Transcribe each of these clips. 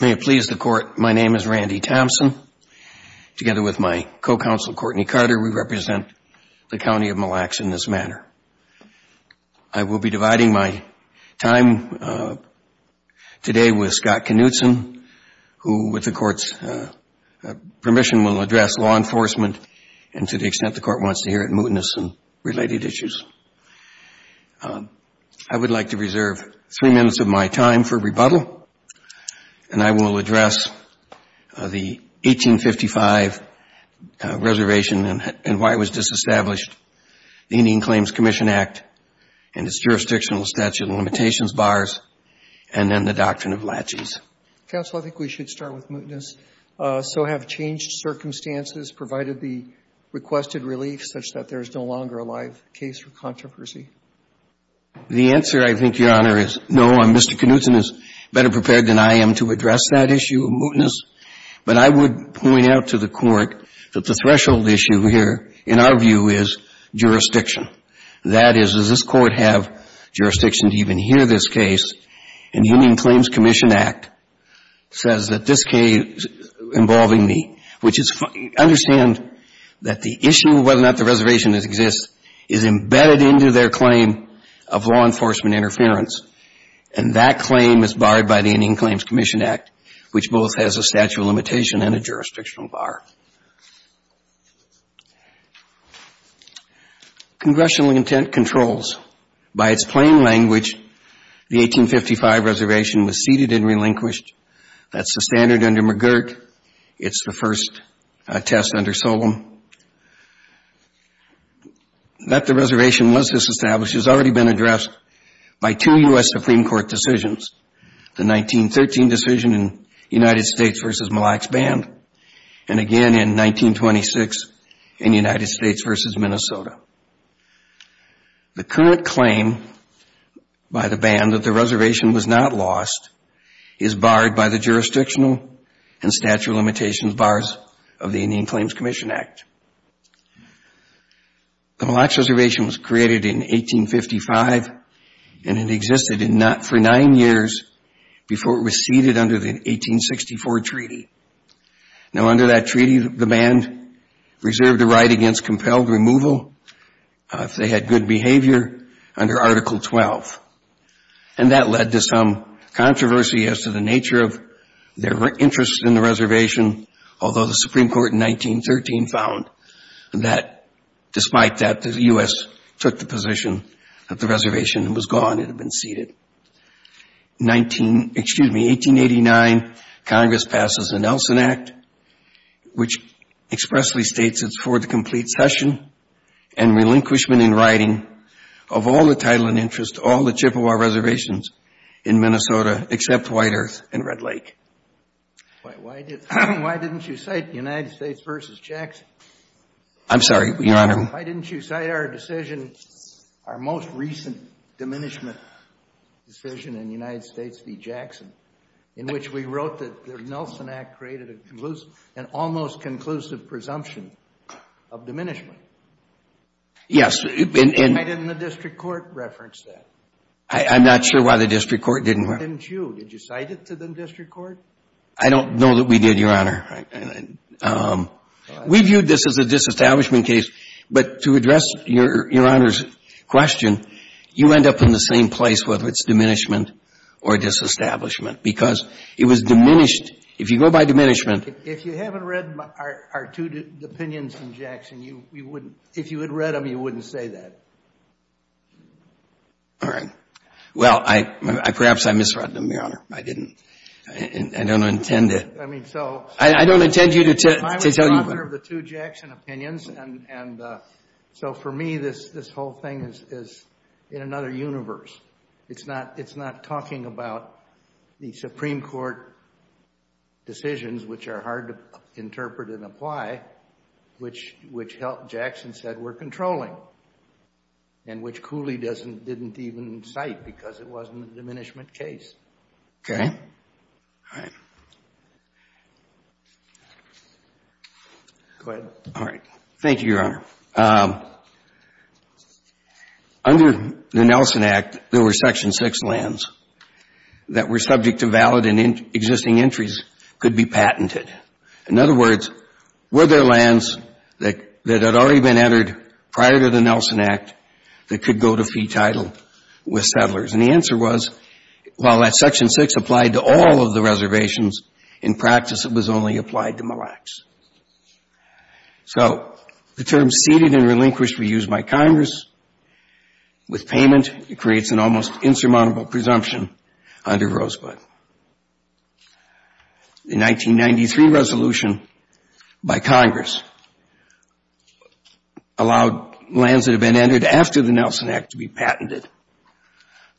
May it please the Court, my name is Randy Thompson. Together with my co-counsel Courtney Carter, we represent the County of Mille Lacs in this manner. I will be dividing my time today with Scott Knutson, who with the Court's permission will address law enforcement and to the extent the Court wants to hear it, mootness and related issues. I would like to reserve three minutes of my time for rebuttal, and I will address the 1855 reservation and why it was disestablished, the Indian Claims Commission Act and its jurisdictional statute of limitations bars, and then the doctrine of laches. Counsel, I think we should start with mootness. So have changed circumstances provided the requested relief such that there is no longer a live case for controversy? The answer, I think, Your Honor, is no. Mr. Knutson is better prepared than I am to address that issue of mootness. But I would point out to the Court that the threshold issue here, in our view, is jurisdiction. That is, does this Court have jurisdiction to even hear this case? And the Indian Claims Commission Act says that this case involving me, which is understand that the issue of whether or not the reservation exists is embedded into their claim of law enforcement interference. And that claim is barred by the Indian Claims Commission Act, which both has a statute of limitation and a jurisdictional bar. Congressional intent controls. By its plain language, the 1855 reservation was ceded and relinquished. That's the standard under McGirt. It's the first test under Solem. That the reservation was disestablished has already been addressed by two U.S. Supreme Court decisions, the 1913 decision in United States v. Mille Lacs Band, and again in 1926 in United States v. Minnesota. The current claim by the band that the reservation was not lost is barred by the jurisdictional and statute of limitations bars of the Indian Claims Commission Act. The Mille Lacs reservation was created in 1855, and it existed for nine years before it was ceded under the 1864 treaty. Now, under that treaty, the band reserved a right against compelled removal if they had good behavior under Article 12. And that led to some controversy as to the nature of their interest in the reservation, although the Supreme Court in 1913 found that, despite that, the U.S. took the position that the reservation was gone, it had been ceded. In 1889, Congress passes the Nelson Act, which expressly states it's for the complete cession and relinquishment in writing of all the title and interest of all the Chippewa reservations in Minnesota except White Earth and Red Lake. Why didn't you cite United States v. Jackson? I'm sorry, Your Honor. Why didn't you cite our decision, our most recent diminishment decision in United States v. Jackson, in which we wrote that the Nelson Act created an almost conclusive presumption of diminishment? Yes. Why didn't the district court reference that? I'm not sure why the district court didn't. Why didn't you? Did you cite it to the district court? I don't know that we did, Your Honor. We viewed this as a disestablishment case, but to address Your Honor's question, you end up in the same place, whether it's diminishment or disestablishment, because it was diminished. If you go by diminishment — If you haven't read our two opinions in Jackson, you wouldn't — if you had read them, you wouldn't say that. All right. Well, perhaps I misread them, Your Honor. I didn't. I don't intend to. I mean, so — I don't intend you to tell — I was the author of the two Jackson opinions, and so for me, this whole thing is in another universe. It's not talking about the Supreme Court decisions, which are hard to interpret and apply, which Jackson said were controlling, and which Cooley didn't even cite because it wasn't a diminishment case. Okay. All right. Go ahead. All right. Thank you, Your Honor. Now, under the Nelson Act, there were Section 6 lands that were subject to valid and existing entries could be patented. In other words, were there lands that had already been entered prior to the Nelson Act that could go to fee title with settlers? And the answer was, while that Section 6 applied to all of the reservations, in practice, it was only applied to Mille Lacs. So the term ceded and relinquished were used by Congress. With payment, it creates an almost insurmountable presumption under Rosebud. The 1993 resolution by Congress allowed lands that had been entered after the Nelson Act to be patented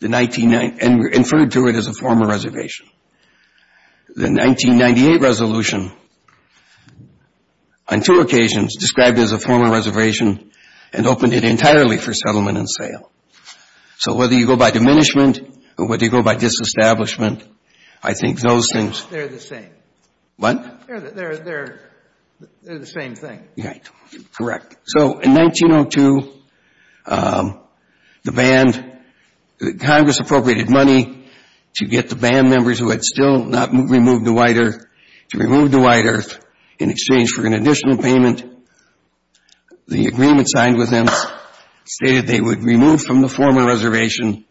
and were inferred to it as a former reservation. The 1998 resolution, on two occasions, described it as a former reservation and opened it entirely for settlement and sale. So whether you go by diminishment or whether you go by disestablishment, I think those things They're the same. What? They're the same thing. Right. Correct. So in 1902, the band, Congress appropriated money to get the band members who had still not removed to White Earth, to remove to White Earth in exchange for an additional payment. The agreement signed with them stated they would remove from the former reservation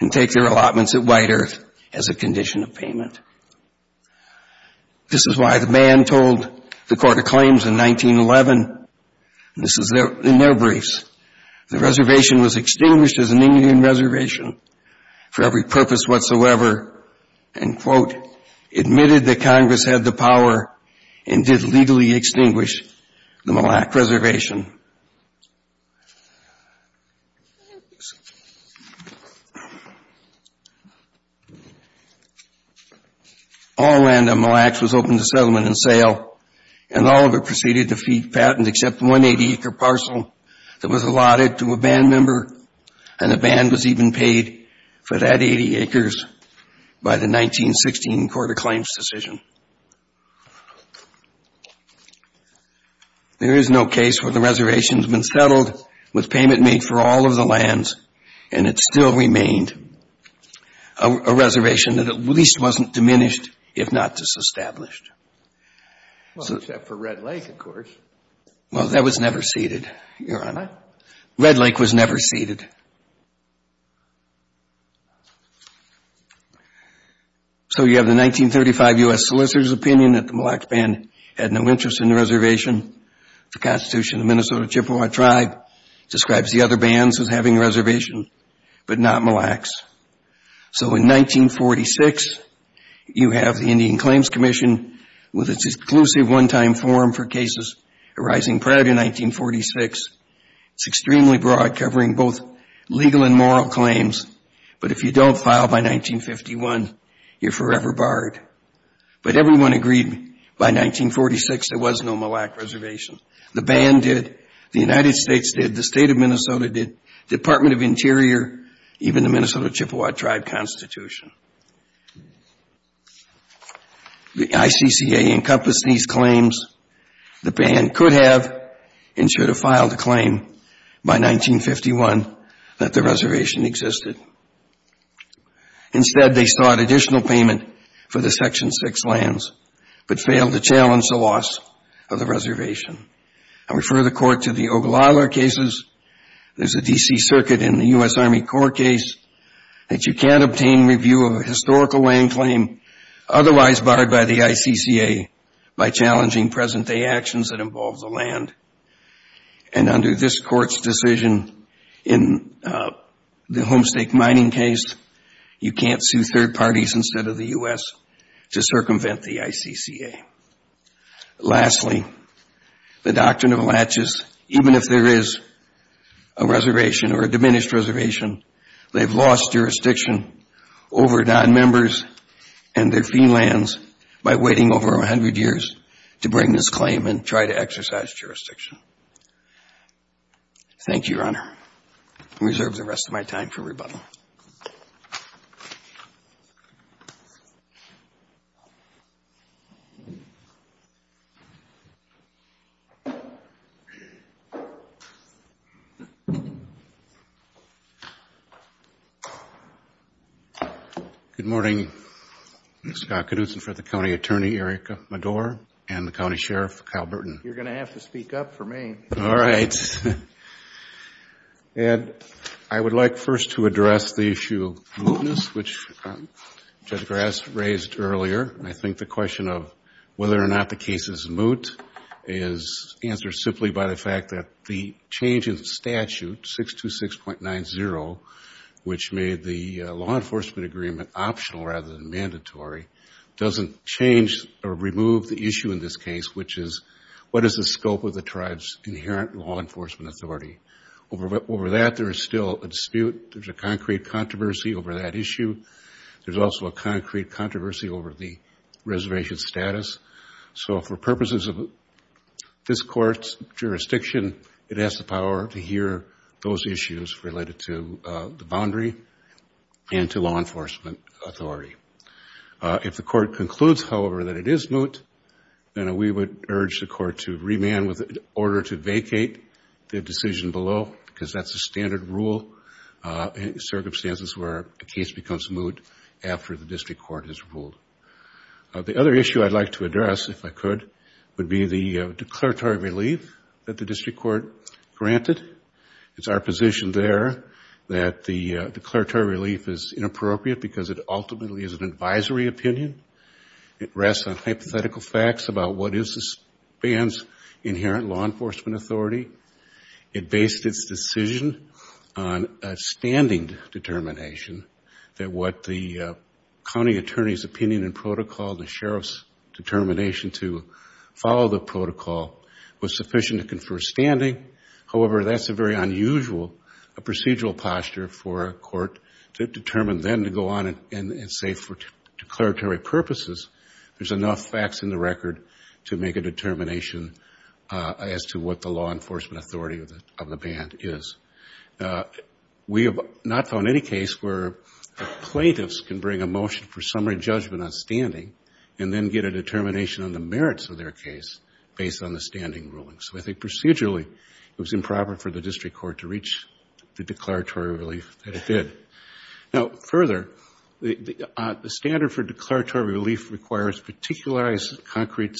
and take their allotments at White Earth as a condition of payment. This is why the band told the Court of Claims in 1911, and this is in their briefs, the reservation was extinguished as an Indian reservation for every purpose whatsoever and, quote, admitted that Congress had the power and did legally extinguish the Mille Lacs reservation. All land on Mille Lacs was open to settlement and sale, and all of it proceeded to feed patent except one 80-acre parcel that was allotted to a band member, and the band was even paid for that 80 acres by the 1916 Court of Claims decision. There is no case where the reservation's been settled with payment made for all of the lands, and it still remained a reservation that at least wasn't diminished, if not disestablished. Well, except for Red Lake, of course. Well, that was never ceded, Your Honor. Red Lake was never ceded. So you have the 1935 U.S. Solicitor's opinion that the Mille Lacs band had no interest in the reservation. The Constitution of the Minnesota Chippewa Tribe describes the other bands as having a reservation, but not Mille Lacs. So in 1946, you have the Indian Claims Commission with its exclusive one-time form for cases arising prior to 1946. It's extremely broad, covering both legal and moral claims, but if you don't file by 1951, you're forever barred. But everyone agreed by 1946 there was no Mille Lac reservation. The band did. The United States did. The State of Minnesota did. Department of Interior, even the Minnesota Chippewa Tribe Constitution. The ICCA encompassed these claims. The band could have and should have filed a claim by 1951 that the reservation existed. Instead, they sought additional payment for the Section 6 lands, but failed to challenge the loss of the reservation. I refer the Court to the Ogallala cases. There's a D.C. Circuit in the U.S. Army Corps case that you can't obtain review of a historical land claim otherwise barred by the ICCA by challenging present-day actions that involve the land. And under this Court's decision in the Homestake Mining case, you can't sue third parties instead of the U.S. to circumvent the ICCA. Lastly, the Doctrine of Latches, even if there is a reservation or a diminished reservation, they've lost jurisdiction over nonmembers and their fee lands by waiting over 100 years to bring this claim and try to exercise jurisdiction. Thank you, Your Honor. I reserve the rest of my time for rebuttal. Good morning. I'm Scott Knudson for the County Attorney, Eric Madour, and the County Sheriff, Kyle Burton. You're going to have to speak up for me. All right. Ed, I would like first to address the issue of mootness, which Judge Grass raised earlier. I think the question of whether or not the case is moot is answered simply by the fact that the change in statute, 626.90, which made the law enforcement agreement optional rather than mandatory, doesn't change or remove the issue in this case, which is what is the scope of the tribe's inherent law enforcement authority. Over that, there is still a dispute. There's a concrete controversy over that issue. There's also a concrete controversy over the reservation status. So for purposes of this Court's jurisdiction, it has the power to hear those issues related to the boundary and to law enforcement authority. If the Court concludes, however, that it is moot, then we would urge the Court to remand with an order to vacate the decision below, because that's the standard rule in circumstances where a case becomes moot after the district court has ruled. The other issue I'd like to address, if I could, would be the declaratory relief that the district court granted. It's our position there that the declaratory relief is inappropriate because it ultimately is an advisory opinion. It rests on hypothetical facts about what is this ban's inherent law enforcement authority. It based its decision on a standing determination that what the county attorney's opinion and protocol, the sheriff's determination to follow the protocol, was sufficient to confer standing. However, that's a very unusual procedural posture for a court to determine then to go on and say, for declaratory purposes, there's enough facts in the record to make a determination as to what the law enforcement authority of the ban is. We have not found any case where plaintiffs can bring a motion for summary judgment on standing and then get a determination on the merits of their case based on the standing ruling. So I think procedurally, it was improper for the district court to reach the declaratory relief that it did. Now, further, the standard for declaratory relief requires particularized concrete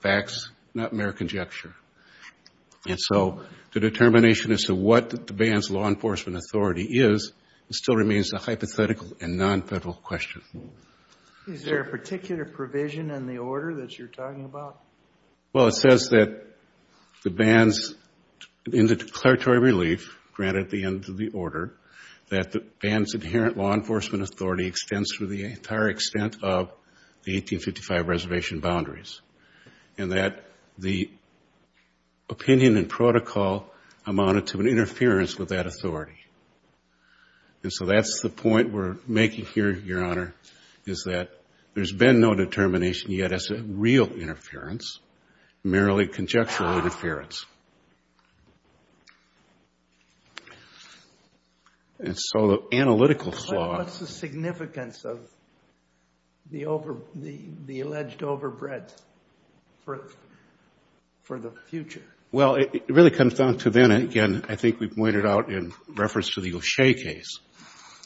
facts, not mere conjecture. And so the determination as to what the ban's law enforcement authority is still remains a hypothetical and nonfederal question. Is there a particular provision in the order that you're talking about? Well, it says that the ban's, in the declaratory relief granted at the end of the order, that the ban's inherent law enforcement authority extends through the entire extent of the 1855 reservation boundaries, and that the opinion and protocol amounted to an interference with that authority. And so that's the point we're making here, Your Honor, is that there's been no determination yet as to real interference, merely conjectural interference. And so the analytical flaw... What's the significance of the alleged overbreadth for the future? Well, it really comes down to then, again, I think we pointed out in reference to the O'Shea case,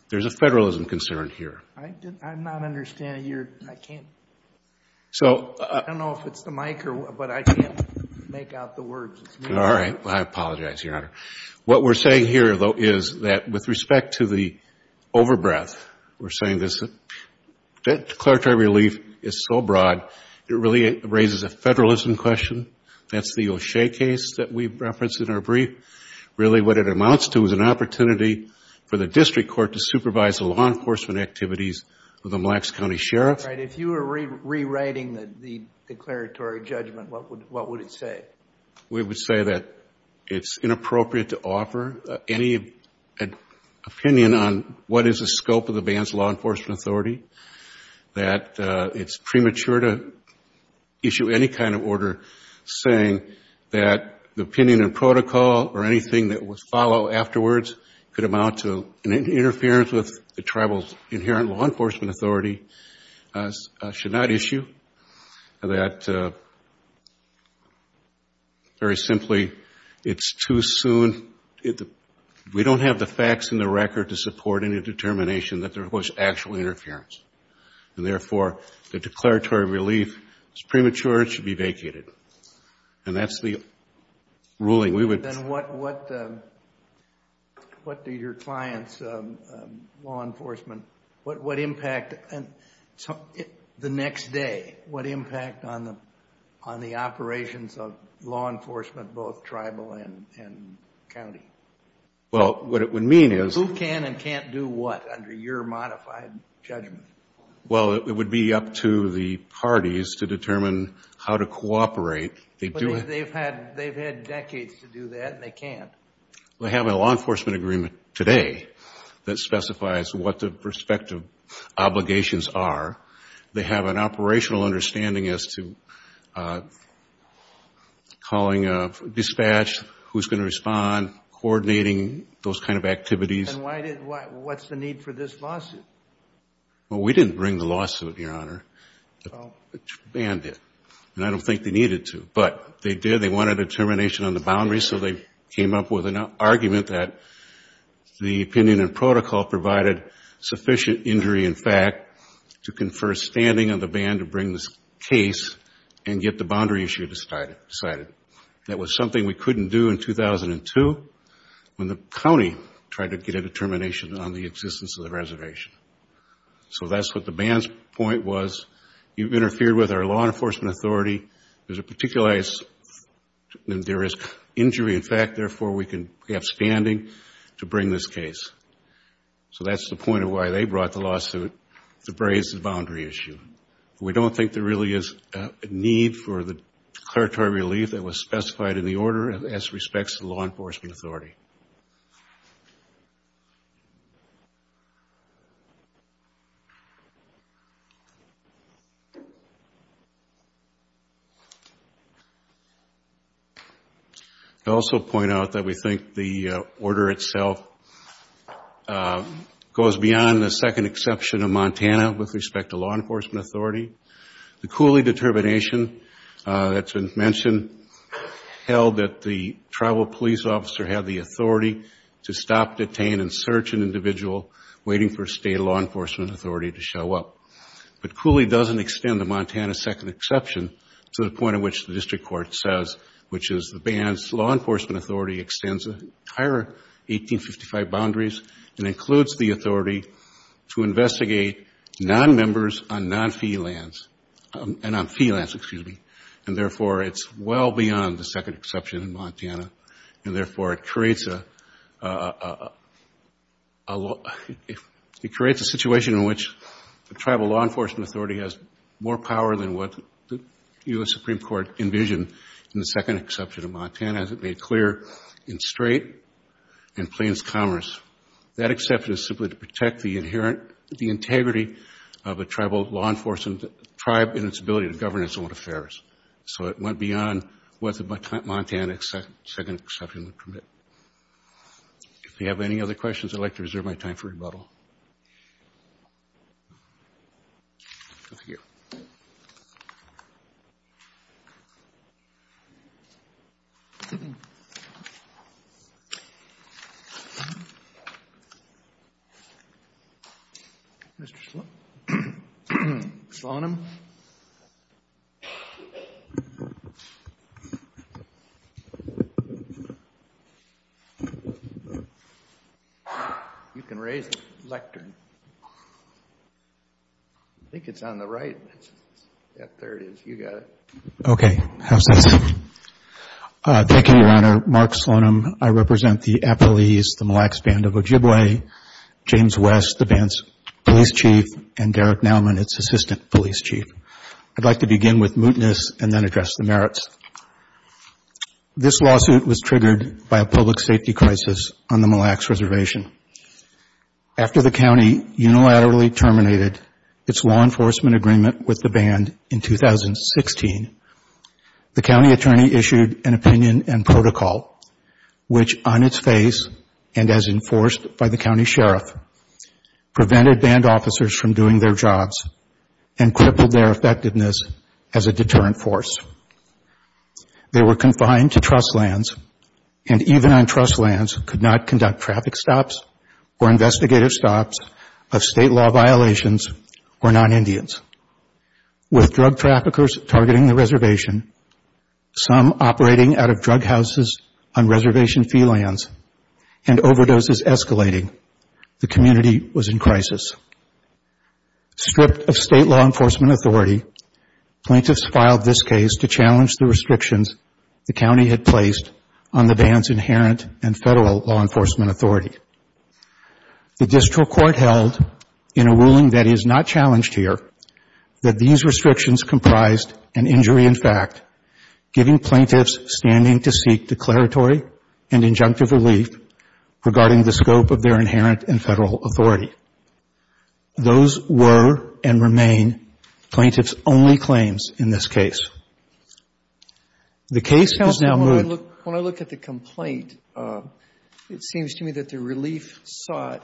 there's a federalism concern here. I'm not understanding your... I can't... I don't know if it's the mic, but I can't make out the words. All right. Well, I apologize, Your Honor. What we're saying here, though, is that with respect to the overbreadth, we're saying that declaratory relief is so broad, it really raises a federalism question. That's the O'Shea case that we referenced in our brief. Really, what it amounts to is an opportunity for the district court to supervise the law enforcement activities of the Mille Lacs County Sheriff's. All right. If you were rewriting the declaratory judgment, what would it say? We would say that it's inappropriate to offer any opinion on what is the scope of the band's law enforcement authority, that it's premature to issue any kind of order, saying that the opinion and protocol amounted to an interference with that authority. Or anything that would follow afterwards could amount to an interference with the tribal's inherent law enforcement authority should not issue. Very simply, it's too soon. We don't have the facts in the record to support any determination that there was actual interference. And therefore, the declaratory relief is premature. It should be vacated. And that's the ruling. Then what do your clients, law enforcement, what impact the next day, what impact on the operations of law enforcement, both tribal and county? Who can and can't do what under your modified judgment? Well, it would be up to the parties to determine how to cooperate. But they've had decades to do that, and they can't. They have a law enforcement agreement today that specifies what the respective obligations are. They have an operational understanding as to calling a dispatch, who's going to respond, coordinating those kind of activities. And what's the need for this lawsuit? Well, we didn't bring the lawsuit, Your Honor. The ban did. And I don't think they needed to. But they did. They wanted a determination on the boundaries, so they came up with an argument that the opinion and protocol provided sufficient injury in fact to confer standing on the ban to bring this case and get the boundary issue decided. That was something we couldn't do in 2002 when the county tried to get a determination on the existence of the reservation. So that's what the ban's point was. You've interfered with our law enforcement authority. There is injury in fact, therefore we can have standing to bring this case. So that's the point of why they brought the lawsuit to raise the boundary issue. We don't think there really is a need for the declaratory relief that was specified in the order as respects to the law enforcement authority. I'd also point out that we think the order itself goes beyond the second exception of Montana with respect to law enforcement authority. The Cooley determination that's been mentioned held that the tribal police officer had the authority to stop, detain and search an individual waiting for state law enforcement. But Cooley doesn't extend the Montana second exception to the point at which the district court says, which is the ban's law enforcement authority extends the entire 1855 boundaries and includes the authority to investigate non-members on non-fee lands. And therefore it's well beyond the second exception in Montana. And therefore it creates a situation in which the district court has the authority to investigate non-members on non-fee lands. It's a situation in which the tribal law enforcement authority has more power than what the U.S. Supreme Court envisioned in the second exception of Montana as it made clear in Strait and Plains Commerce. That exception is simply to protect the integrity of a tribal law enforcement tribe and its ability to govern its own affairs. So it went beyond what the Montana second exception would permit. If you have any other questions, I'd like to reserve my time for rebuttal. Mr. Slonim? You can raise the lectern. I think it's on the right. Yeah, there it is. You got it. Okay. Thank you, Your Honor. Mark Slonim. I represent the Appalese, the Mille Lacs Band of Ojibwe, James West, the band's police chief, and Derek Nauman, its assistant police chief. I'd like to begin with mootness and then address the merits. This lawsuit was triggered by a public safety crisis on the Mille Lacs Reservation. After the county unilaterally terminated its law enforcement agreement with the band in 2016, the county attorney issued an opinion and protocol, which on its face and as enforced by the county sheriff, prevented band officers from doing their jobs and crippled their effectiveness as a deterrent force. They were confined to trust lands and even on trust lands could not conduct traffic stops or investigative stops of state law violations or non-Indians. With drug traffickers targeting the reservation, some operating out of drug houses on reservation fee lands, and overdoses escalating, the community was in crisis. Stripped of state law enforcement authority, plaintiffs filed this case to challenge the restrictions the county had placed on the band's inherent and federal law enforcement authority. The district court held in a ruling that is not challenged here, that these restrictions comprised an injury in fact, giving plaintiffs standing to seek declaratory and injunctive relief regarding the scope of their inherent and federal authority. Those were and remain plaintiffs' only claims in this case. The case is now moved. Robertson When I look at the complaint, it seems to me that the relief sought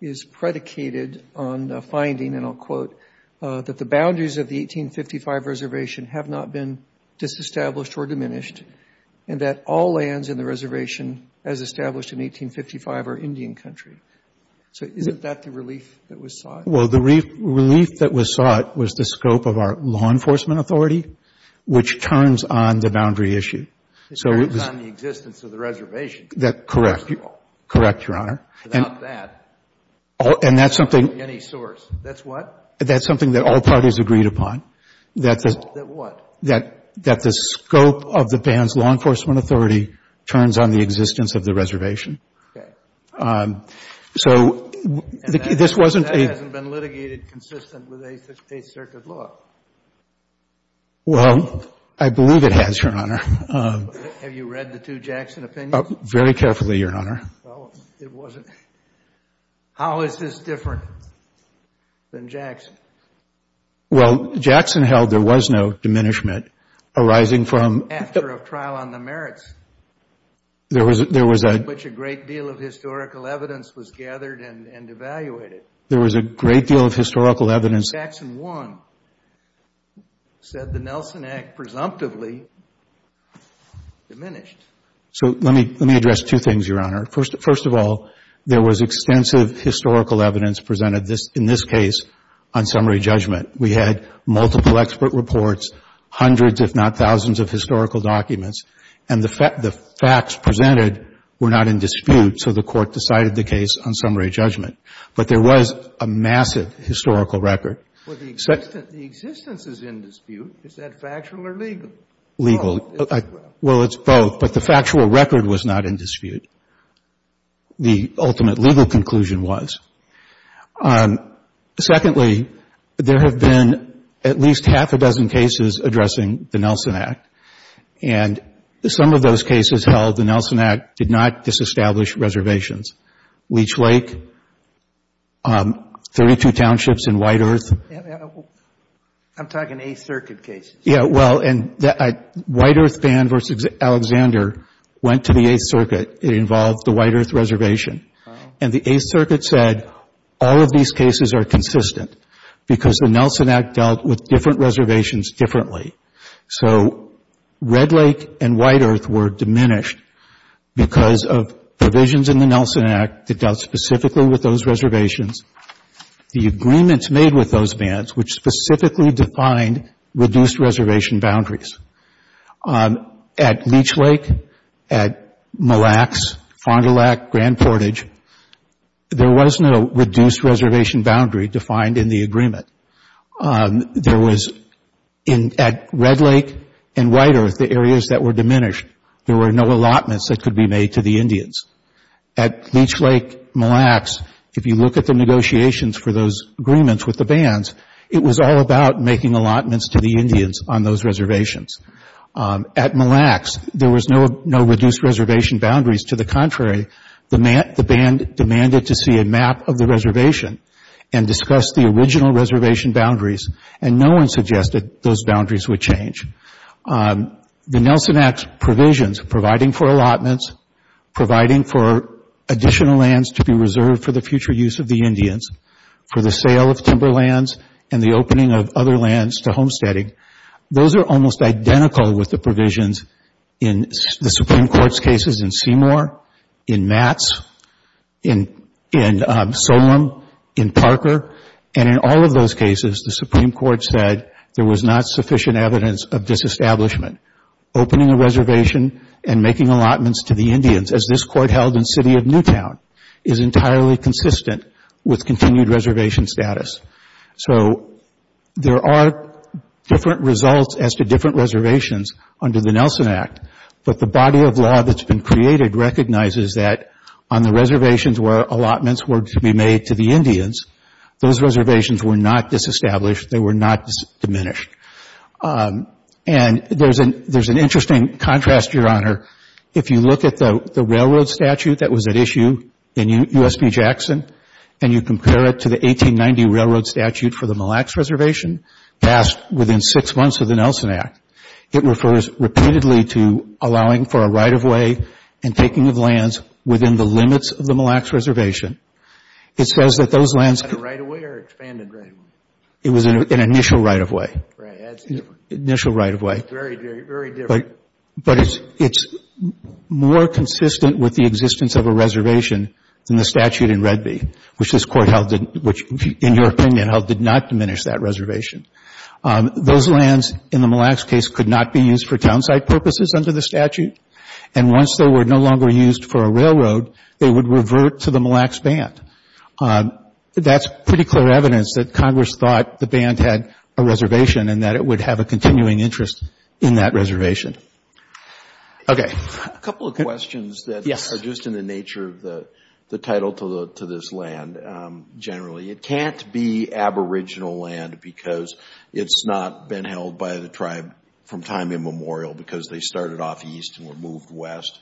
is predicated on the finding, and I'll quote, that the boundaries of the 1855 reservation have not been disestablished or diminished, and that all lands in the reservation as established in 1855 are Indian country. So isn't that the relief that was sought? Kessler Well, the relief that was sought was the scope of our law enforcement authority, which turns on the boundary issue. Robertson It turns on the existence of the reservation, first of all. Kessler Correct, Your Honor. Robertson Without that, without any source. That's what? Kessler That's something that all parties agreed upon. Robertson That what? Kessler That the scope of the band's law enforcement authority turns on the existence of the reservation. Robertson Okay. Kessler So this wasn't a — Robertson Well, Jackson held there was no diminishment arising from — Kessler After a trial on the merits. Robertson There was a — Kessler In which a great deal of historical evidence was gathered and evaluated. Robertson There was a great deal of historical evidence — First of all, there was extensive historical evidence presented in this case on summary judgment. We had multiple expert reports, hundreds if not thousands of historical documents, and the facts presented were not in dispute, so the Court decided the case on summary judgment. But there was a massive historical record. Kennedy Well, the existence is in dispute. Is that factual or legal? Robertson Well, it's both, but the factual record was not in dispute. The ultimate legal conclusion was. Secondly, there have been at least half a dozen cases addressing the Nelson Act, and some of those cases held the Nelson Act did not disestablish reservations. Leech Lake, 32 townships in White Earth — White Earth band versus Alexander went to the Eighth Circuit. It involved the White Earth reservation, and the Eighth Circuit said all of these cases are consistent because the Nelson Act dealt with different reservations differently. So Red Lake and White Earth were diminished because of provisions in the Nelson Act that dealt specifically with those reservations. The agreements made with those bands, which specifically defined reduced reservation boundaries. At Leech Lake, at Mille Lacs, Fond du Lac, Grand Portage, there was no reduced reservation boundary defined in the agreement. There was — at Red Lake and White Earth, the areas that were diminished, there were no allotments that could be made to the Indians. At Leech Lake, Mille Lacs, if you look at the negotiations for those agreements with the bands, it was all about making allotments to the Indians on those reservations. At Mille Lacs, there was no reduced reservation boundaries. To the contrary, the band demanded to see a map of the reservation and discuss the original reservation boundaries, and no one suggested those boundaries would change. The Nelson Act provisions, providing for allotments, providing for additional lands to be reserved for the future use of the Indians, for the sale of timber lands and the opening of other lands to homesteading, those are almost identical with the provisions in the Supreme Court's cases in Seymour, in Matz, in Solem, in Parker, and in all of those cases, the Supreme Court said there was not sufficient evidence of disestablishment. Opening a reservation and making allotments to the Indians, as this Court held in City of Newtown, is entirely consistent with continued reservation status. So there are different results as to different reservations under the Nelson Act, but the body of law that's been created recognizes that on the reservations where allotments were to be made to the Indians, those reservations were not disestablished. They were not diminished, and there's an interesting contrast, Your Honor. If you look at the railroad statute that was at issue in USB Jackson and you compare it to the 1890 railroad statute for the Mille Lacs reservation, passed within six months of the Nelson Act, it refers repeatedly to allowing for a right-of-way and taking of lands within the limits of the Mille Lacs reservation. It says that those lands... Was that a right-of-way or an expanded right-of-way? It was an initial right-of-way. Right. That's different. Initial right-of-way. Very, very different. But it's more consistent with the existence of a reservation than the statute in Redby, which this Court held, which in your opinion, held did not diminish that reservation. Those lands in the Mille Lacs case could not be used for town site purposes under the statute, and once they were no longer used for a railroad, they would revert to the Mille Lacs band. That's pretty clear evidence that Congress thought the band had a reservation and that it would have a continuing interest in that reservation. Okay. A couple of questions that are just in the nature of the title to this land generally. It can't be aboriginal land because it's not been held by the tribe from time immemorial because they started off east and were moved west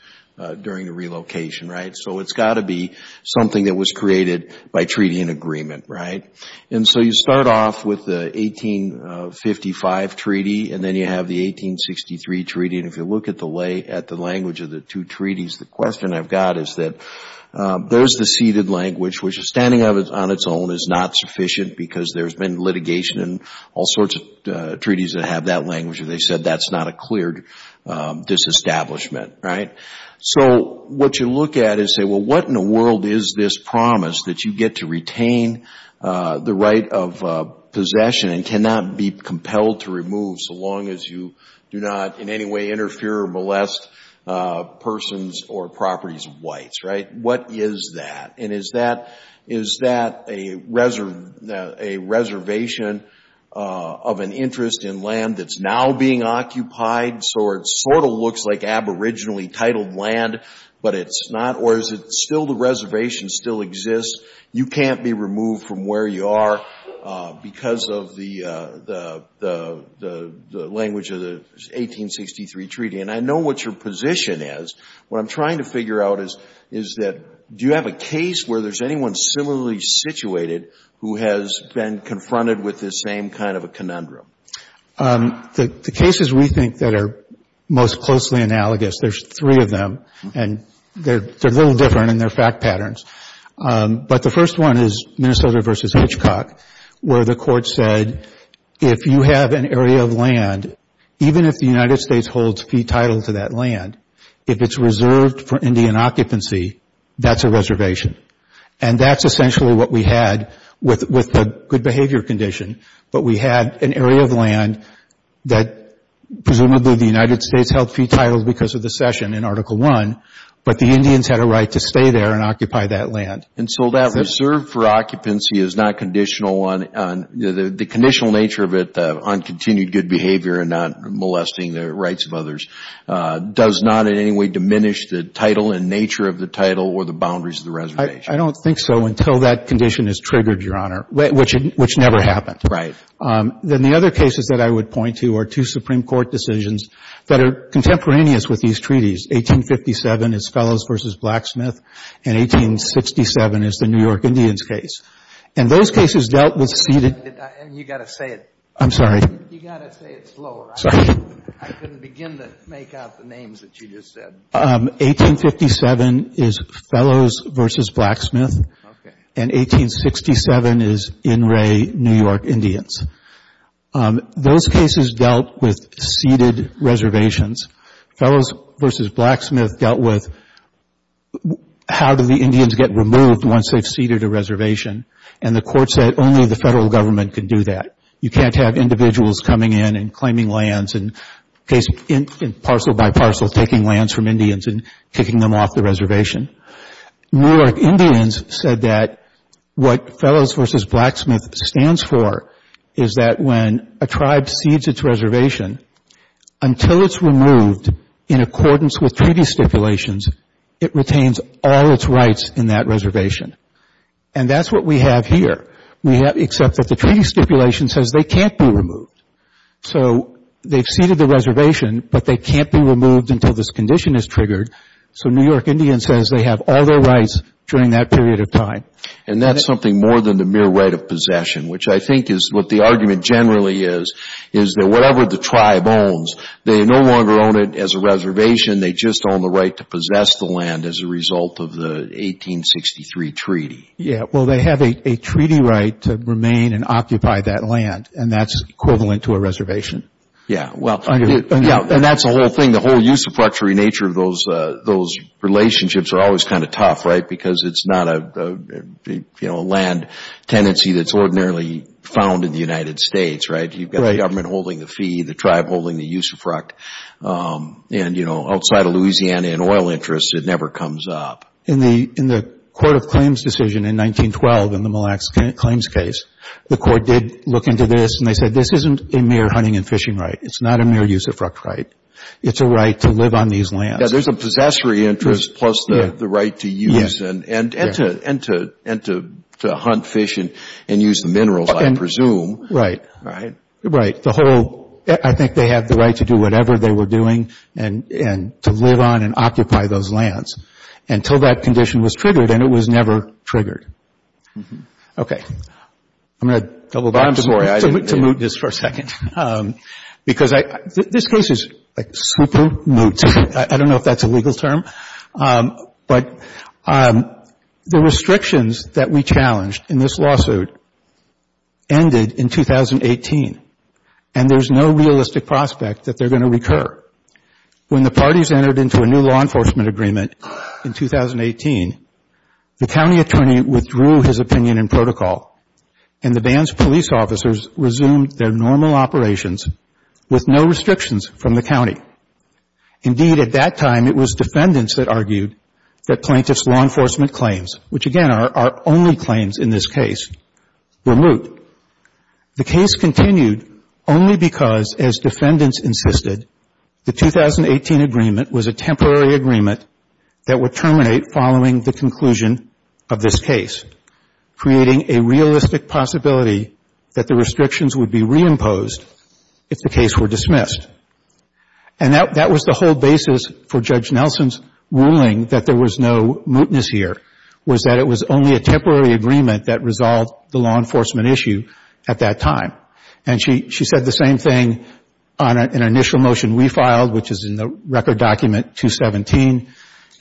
during the relocation, right? So it's got to be something that was created by treaty and agreement, right? And so you start off with the 1855 treaty, and then you have the 1863 treaty, and if you look at the language of the two treaties, the question I've got is that there's the ceded language, which standing on its own is not sufficient because there's been litigation and all sorts of treaties that have that language, or they said that's not a cleared disestablishment, right? So what you look at is say, well, what in the world is this promise that you get to retain the right of possession and cannot be compelled to remove so long as you do not in any way interfere or molest persons or properties of whites, right? What is that? And is that a reservation of an interest in land that's now being occupied, so it sort of looks like aboriginally titled land, but it's not? Or is it still the reservation still exists? You can't be removed from where you are because of the language of the 1863 treaty. And I know what your position is. What I'm trying to figure out is that do you have a case where there's anyone similarly situated who has been confronted with this same kind of a conundrum? The cases we think that are most closely analogous, there's three of them, and they're a little different in their fact patterns. But the first one is Minnesota v. Hitchcock, where the Court said if you have an area of land, even if the United States holds fee title to that land, if it's reserved for Indian occupancy, that's a reservation. And that's essentially what we had with the good behavior condition, but we had an area of land that presumably the United States held fee titles because of the session in Article I, but the Indians had a right to stay there and occupy that land. And so that reserve for occupancy is not conditional on the conditional nature of it, on continued good behavior and not molesting the rights of others, does not in any way diminish the title and nature of the title or the boundaries of the reservation. I don't think so until that condition is triggered, Your Honor, which never happened. Right. Then the other cases that I would point to are two Supreme Court decisions that are contemporaneous with these treaties. 1857 is Fellows v. Blacksmith, and 1867 is the New York Indians case. And those cases dealt with seated. You've got to say it. I'm sorry. You've got to say it slower. Sorry. I couldn't begin to make out the names that you just said. 1857 is Fellows v. Blacksmith. Okay. And 1867 is in re New York Indians. Those cases dealt with seated reservations. Fellows v. Blacksmith dealt with how do the Indians get removed once they've seated a reservation, and the Court said only the Federal Government could do that. You can't have individuals coming in and claiming lands and parcel by parcel taking lands from Indians and kicking them off the reservation. New York Indians said that what Fellows v. Blacksmith stands for is that when a tribe cedes its reservation, until it's removed in accordance with treaty stipulations, it retains all its rights in that reservation. And that's what we have here. Except that the treaty stipulation says they can't be removed. So they've seated the reservation, but they can't be removed until this condition is triggered. So New York Indians says they have all their rights during that period of time. And that's something more than the mere right of possession, which I think is what the argument generally is, is that whatever the tribe owns, they no longer own it as a reservation. They just own the right to possess the land as a result of the 1863 treaty. Yeah, well, they have a treaty right to remain and occupy that land, and that's equivalent to a reservation. Yeah, well, and that's the whole thing. The whole usurpatory nature of those relationships are always kind of tough, right, because it's not a land tenancy that's ordinarily found in the United States, right? You've got the government holding the fee, the tribe holding the usurp. And, you know, outside of Louisiana and oil interests, it never comes up. In the Court of Claims decision in 1912 in the Mille Lacs Claims case, the court did look into this, and they said this isn't a mere hunting and fishing right. It's not a mere usurpatory right. It's a right to live on these lands. Yeah, there's a possessory interest plus the right to use and to hunt, fish, and use the minerals, I presume. Right. Right. The whole – I think they have the right to do whatever they were doing and to live on and occupy those lands. Until that condition was triggered, and it was never triggered. Okay. I'm going to double back to Moot this for a second. Because this case is like super moot. I don't know if that's a legal term. But the restrictions that we challenged in this lawsuit ended in 2018, and there's no realistic prospect that they're going to recur. When the parties entered into a new law enforcement agreement in 2018, the county attorney withdrew his opinion and protocol, and the band's police officers resumed their normal operations with no restrictions from the county. Indeed, at that time, it was defendants that argued that plaintiff's law enforcement claims, which, again, are our only claims in this case, were moot. The case continued only because, as defendants insisted, the 2018 agreement was a temporary agreement that would terminate following the conclusion of this case, creating a realistic possibility that the restrictions would be reimposed if the case were dismissed. And that was the whole basis for Judge Nelson's ruling that there was no mootness here, was that it was only a temporary agreement that resolved the law enforcement issue at that time. And she said the same thing on an initial motion we filed, which is in the record document 217,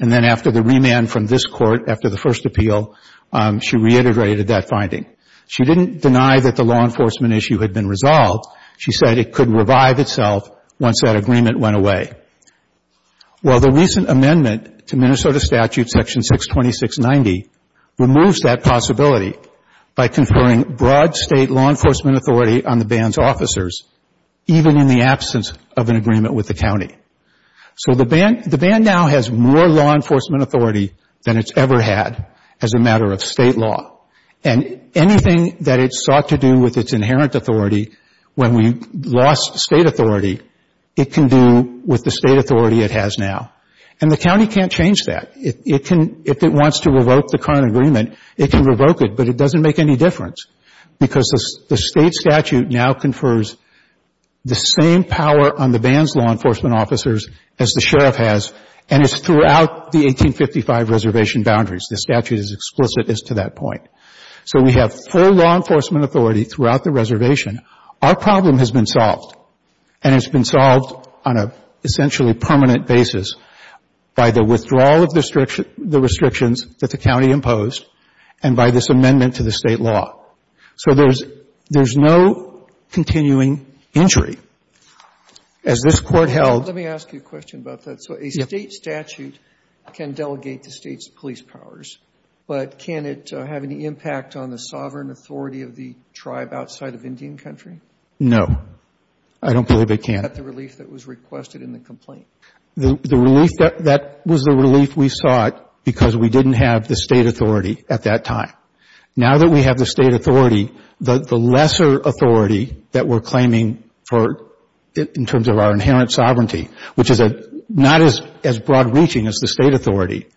and then after the remand from this court after the first appeal, she reintegrated that finding. She didn't deny that the law enforcement issue had been resolved. She said it could revive itself once that agreement went away. Well, the recent amendment to Minnesota Statute Section 62690 removes that possibility by conferring broad State law enforcement authority on the band's officers, even in the absence of an agreement with the county. So the band now has more law enforcement authority than it's ever had as a matter of State law. And anything that it sought to do with its inherent authority when we lost State authority, it can do with the State authority it has now. And the county can't change that. If it wants to revoke the current agreement, it can revoke it, but it doesn't make any difference because the State statute now confers the same power on the band's law enforcement officers as the sheriff has, and it's throughout the 1855 reservation boundaries. The statute is explicit as to that point. So we have full law enforcement authority throughout the reservation. Our problem has been solved, and it's been solved on an essentially permanent basis by the withdrawal of the restrictions that the county imposed and by this amendment to the State law. So there's no continuing injury. As this Court held — Let me ask you a question about that. So a State statute can delegate the State's police powers, but can it have any impact on the sovereign authority of the tribe outside of Indian country? No. I don't believe it can. Is that the relief that was requested in the complaint? The relief that — that was the relief we sought because we didn't have the State authority at that time. Now that we have the State authority, the lesser authority that we're claiming for — in terms of our inherent sovereignty, which is not as broad-reaching as the State authority,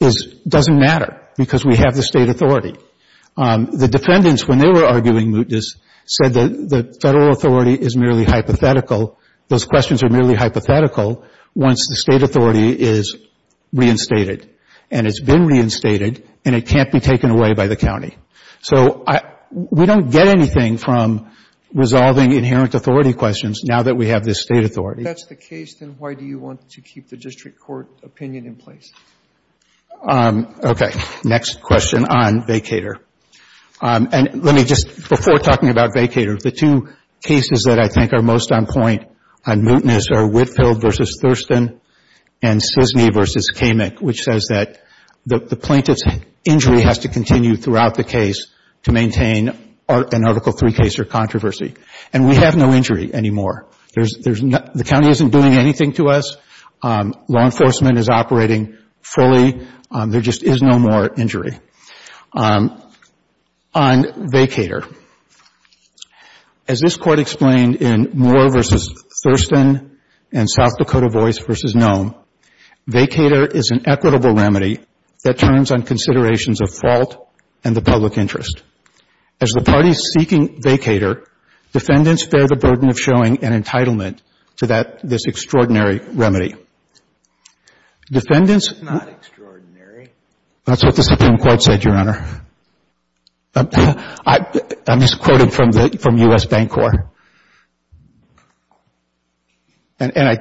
is — doesn't matter because we have the State authority. The defendants, when they were arguing Moot Dis, said that the Federal authority is merely hypothetical. Those questions are merely hypothetical once the State authority is reinstated. And it's been reinstated, and it can't be taken away by the county. So I — we don't get anything from resolving inherent authority questions now that we have this State authority. If that's the case, then why do you want to keep the district court opinion in place? Okay. Next question on vacator. And let me just — before talking about vacator, the two cases that I think are most on point on Moot Dis are Whitfield v. Thurston and Sisney v. Kamik, which says that the plaintiff's injury has to continue throughout the case to maintain an Article III case or controversy. And we have no injury anymore. There's — the county isn't doing anything to us. Law enforcement is operating fully. There just is no more injury. On vacator. As this Court explained in Moore v. Thurston and South Dakota Voice v. Nome, vacator is an equitable remedy that turns on considerations of fault and the public interest. As the party is seeking vacator, defendants bear the burden of showing an entitlement to that — this extraordinary remedy. Defendants — It's not extraordinary. That's what the Supreme Court said, Your Honor. I'm just quoting from the — from U.S. Bank Corps. And I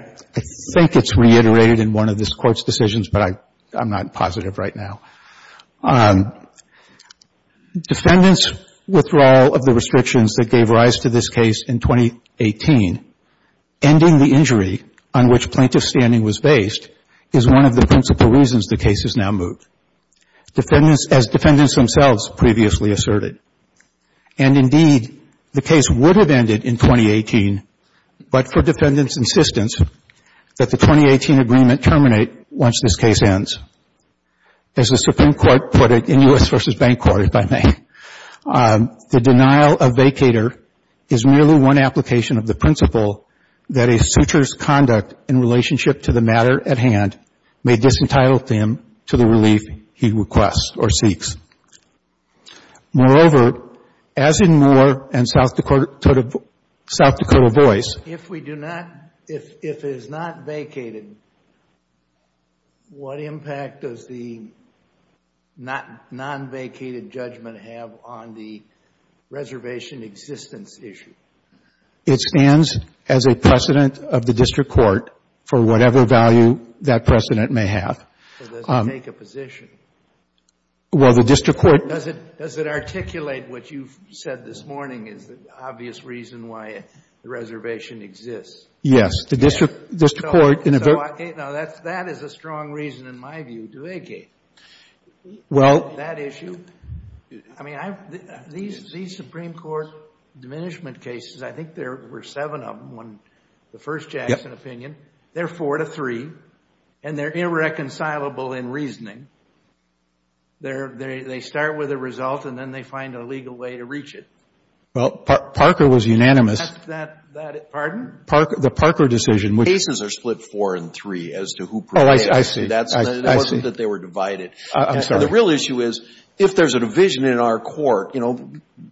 think it's reiterated in one of this Court's decisions, but I'm not positive right now. Defendants' withdrawal of the restrictions that gave rise to this case in 2018, ending the injury on which plaintiff's standing was based, is one of the principal reasons the case is now moved, as defendants themselves previously asserted. And indeed, the case would have ended in 2018, but for defendants' insistence that the 2018 agreement terminate once this case ends. As the Supreme Court put it in U.S. v. Bank Corps, if I may, the denial of vacator is merely one application of the principle that a suture's conduct in relationship to the matter at hand may disentitle him to the relief he requests or seeks. Moreover, as in Moore and South Dakota Voice — What impact does the non-vacated judgment have on the reservation existence issue? It stands as a precedent of the district court for whatever value that precedent may have. So does it take a position? Well, the district court — Does it articulate what you've said this morning is the obvious reason why the reservation exists? Yes. So that is a strong reason, in my view, to vacate that issue. I mean, these Supreme Court diminishment cases, I think there were seven of them, the first Jackson opinion. They're four to three, and they're irreconcilable in reasoning. They start with a result, and then they find a legal way to reach it. Well, Parker was unanimous. Pardon? The Parker decision, which — Cases are split four and three as to who — Oh, I see. I see. It wasn't that they were divided. I'm sorry. The real issue is if there's a division in our court, you know,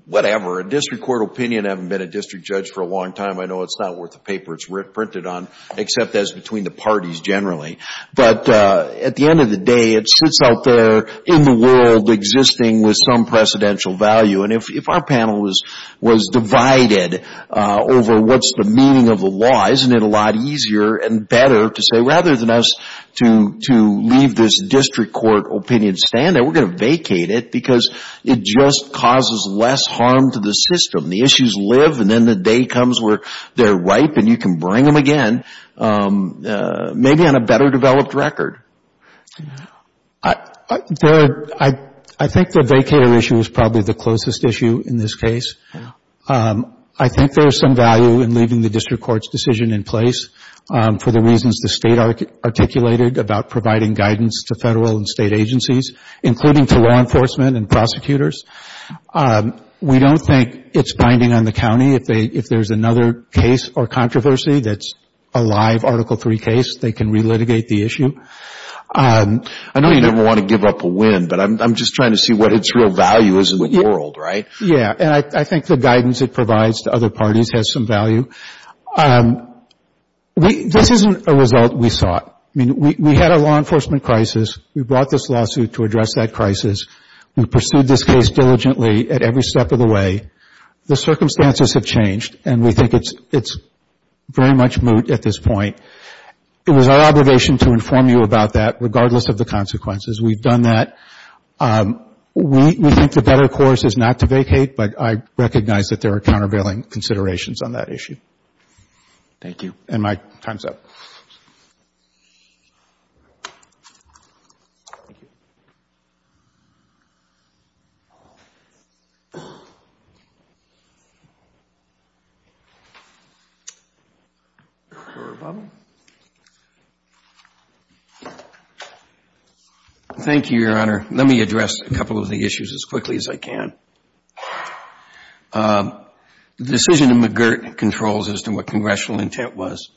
whatever. A district court opinion, I haven't been a district judge for a long time. I know it's not worth the paper it's printed on, except as between the parties generally. But at the end of the day, it sits out there in the world existing with some precedential value. And if our panel was divided over what's the meaning of the law, isn't it a lot easier and better to say rather than us to leave this district court opinion stand there, we're going to vacate it because it just causes less harm to the system. The issues live, and then the day comes where they're ripe and you can bring them again, maybe on a better developed record. I think the vacater issue is probably the closest issue in this case. I think there's some value in leaving the district court's decision in place for the reasons the state articulated about providing guidance to federal and state agencies, including to law enforcement and prosecutors. We don't think it's binding on the county. If there's another case or controversy that's a live Article III case, they can relitigate the issue. I know you never want to give up a win, but I'm just trying to see what its real value is in the world, right? Yeah, and I think the guidance it provides to other parties has some value. This isn't a result we sought. I mean, we had a law enforcement crisis. We brought this lawsuit to address that crisis. We pursued this case diligently at every step of the way. The circumstances have changed, and we think it's very much moot at this point. It was our obligation to inform you about that, regardless of the consequences. We've done that. We think the better course is not to vacate, but I recognize that there are countervailing considerations on that issue. Thank you. And my time's up. Thank you, Your Honor. Let me address a couple of the issues as quickly as I can. The decision in McGirt controls as to what congressional intent was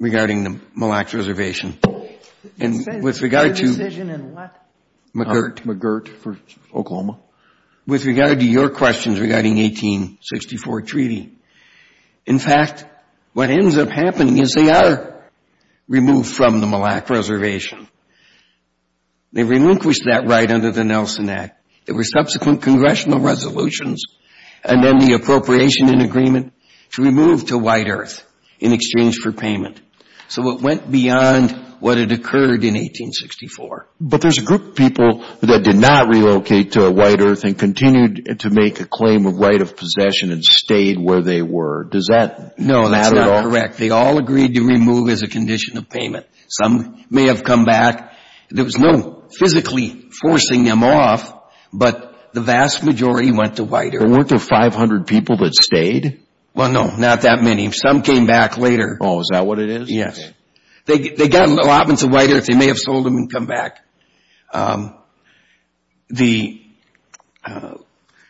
regarding the Mille Lacs Reservation. The decision in what? McGirt. McGirt for Oklahoma. With regard to your questions regarding 1864 Treaty. In fact, what ends up happening is they are removed from the Mille Lacs Reservation. They relinquished that right under the Nelson Act. There were subsequent congressional resolutions, and then the appropriation and agreement to remove to White Earth in exchange for payment. So it went beyond what had occurred in 1864. But there's a group of people that did not relocate to White Earth and continued to make a claim of right of possession and stayed where they were. Does that matter at all? No, that's not correct. They all agreed to remove as a condition of payment. Some may have come back. There was no physically forcing them off, but the vast majority went to White Earth. But weren't there 500 people that stayed? Well, no, not that many. Some came back later. Oh, is that what it is? Yes. They got allotments of White Earth. They may have sold them and come back. There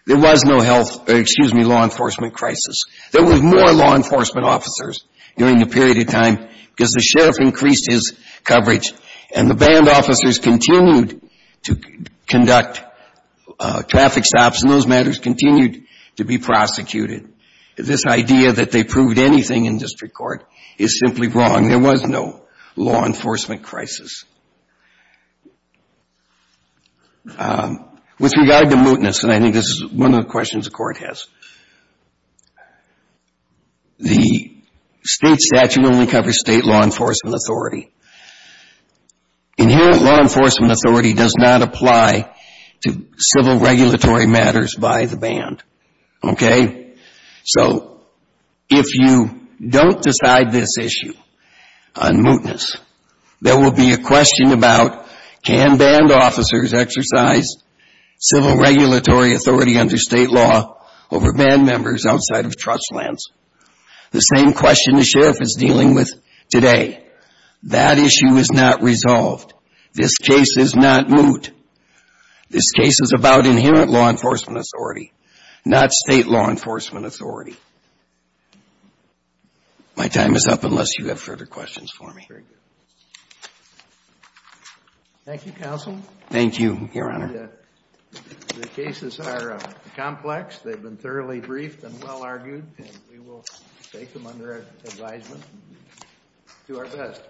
was no law enforcement crisis. There were more law enforcement officers during the period of time because the sheriff increased his coverage, and the band officers continued to conduct traffic stops, and those matters continued to be prosecuted. This idea that they proved anything in district court is simply wrong. There was no law enforcement crisis. With regard to mootness, and I think this is one of the questions the court has, the state statute only covers state law enforcement authority. Inherent law enforcement authority does not apply to civil regulatory matters by the band. Okay? So if you don't decide this issue on mootness, there will be a question about can band officers exercise civil regulatory authority under state law over band members outside of trust lands. The same question the sheriff is dealing with today. That issue is not resolved. This case is not moot. This case is about inherent law enforcement authority, not state law enforcement authority. My time is up unless you have further questions for me. Thank you, Counsel. Thank you, Your Honor. The cases are complex. They've been thoroughly briefed and well argued, and we will take them under advisement and do our best.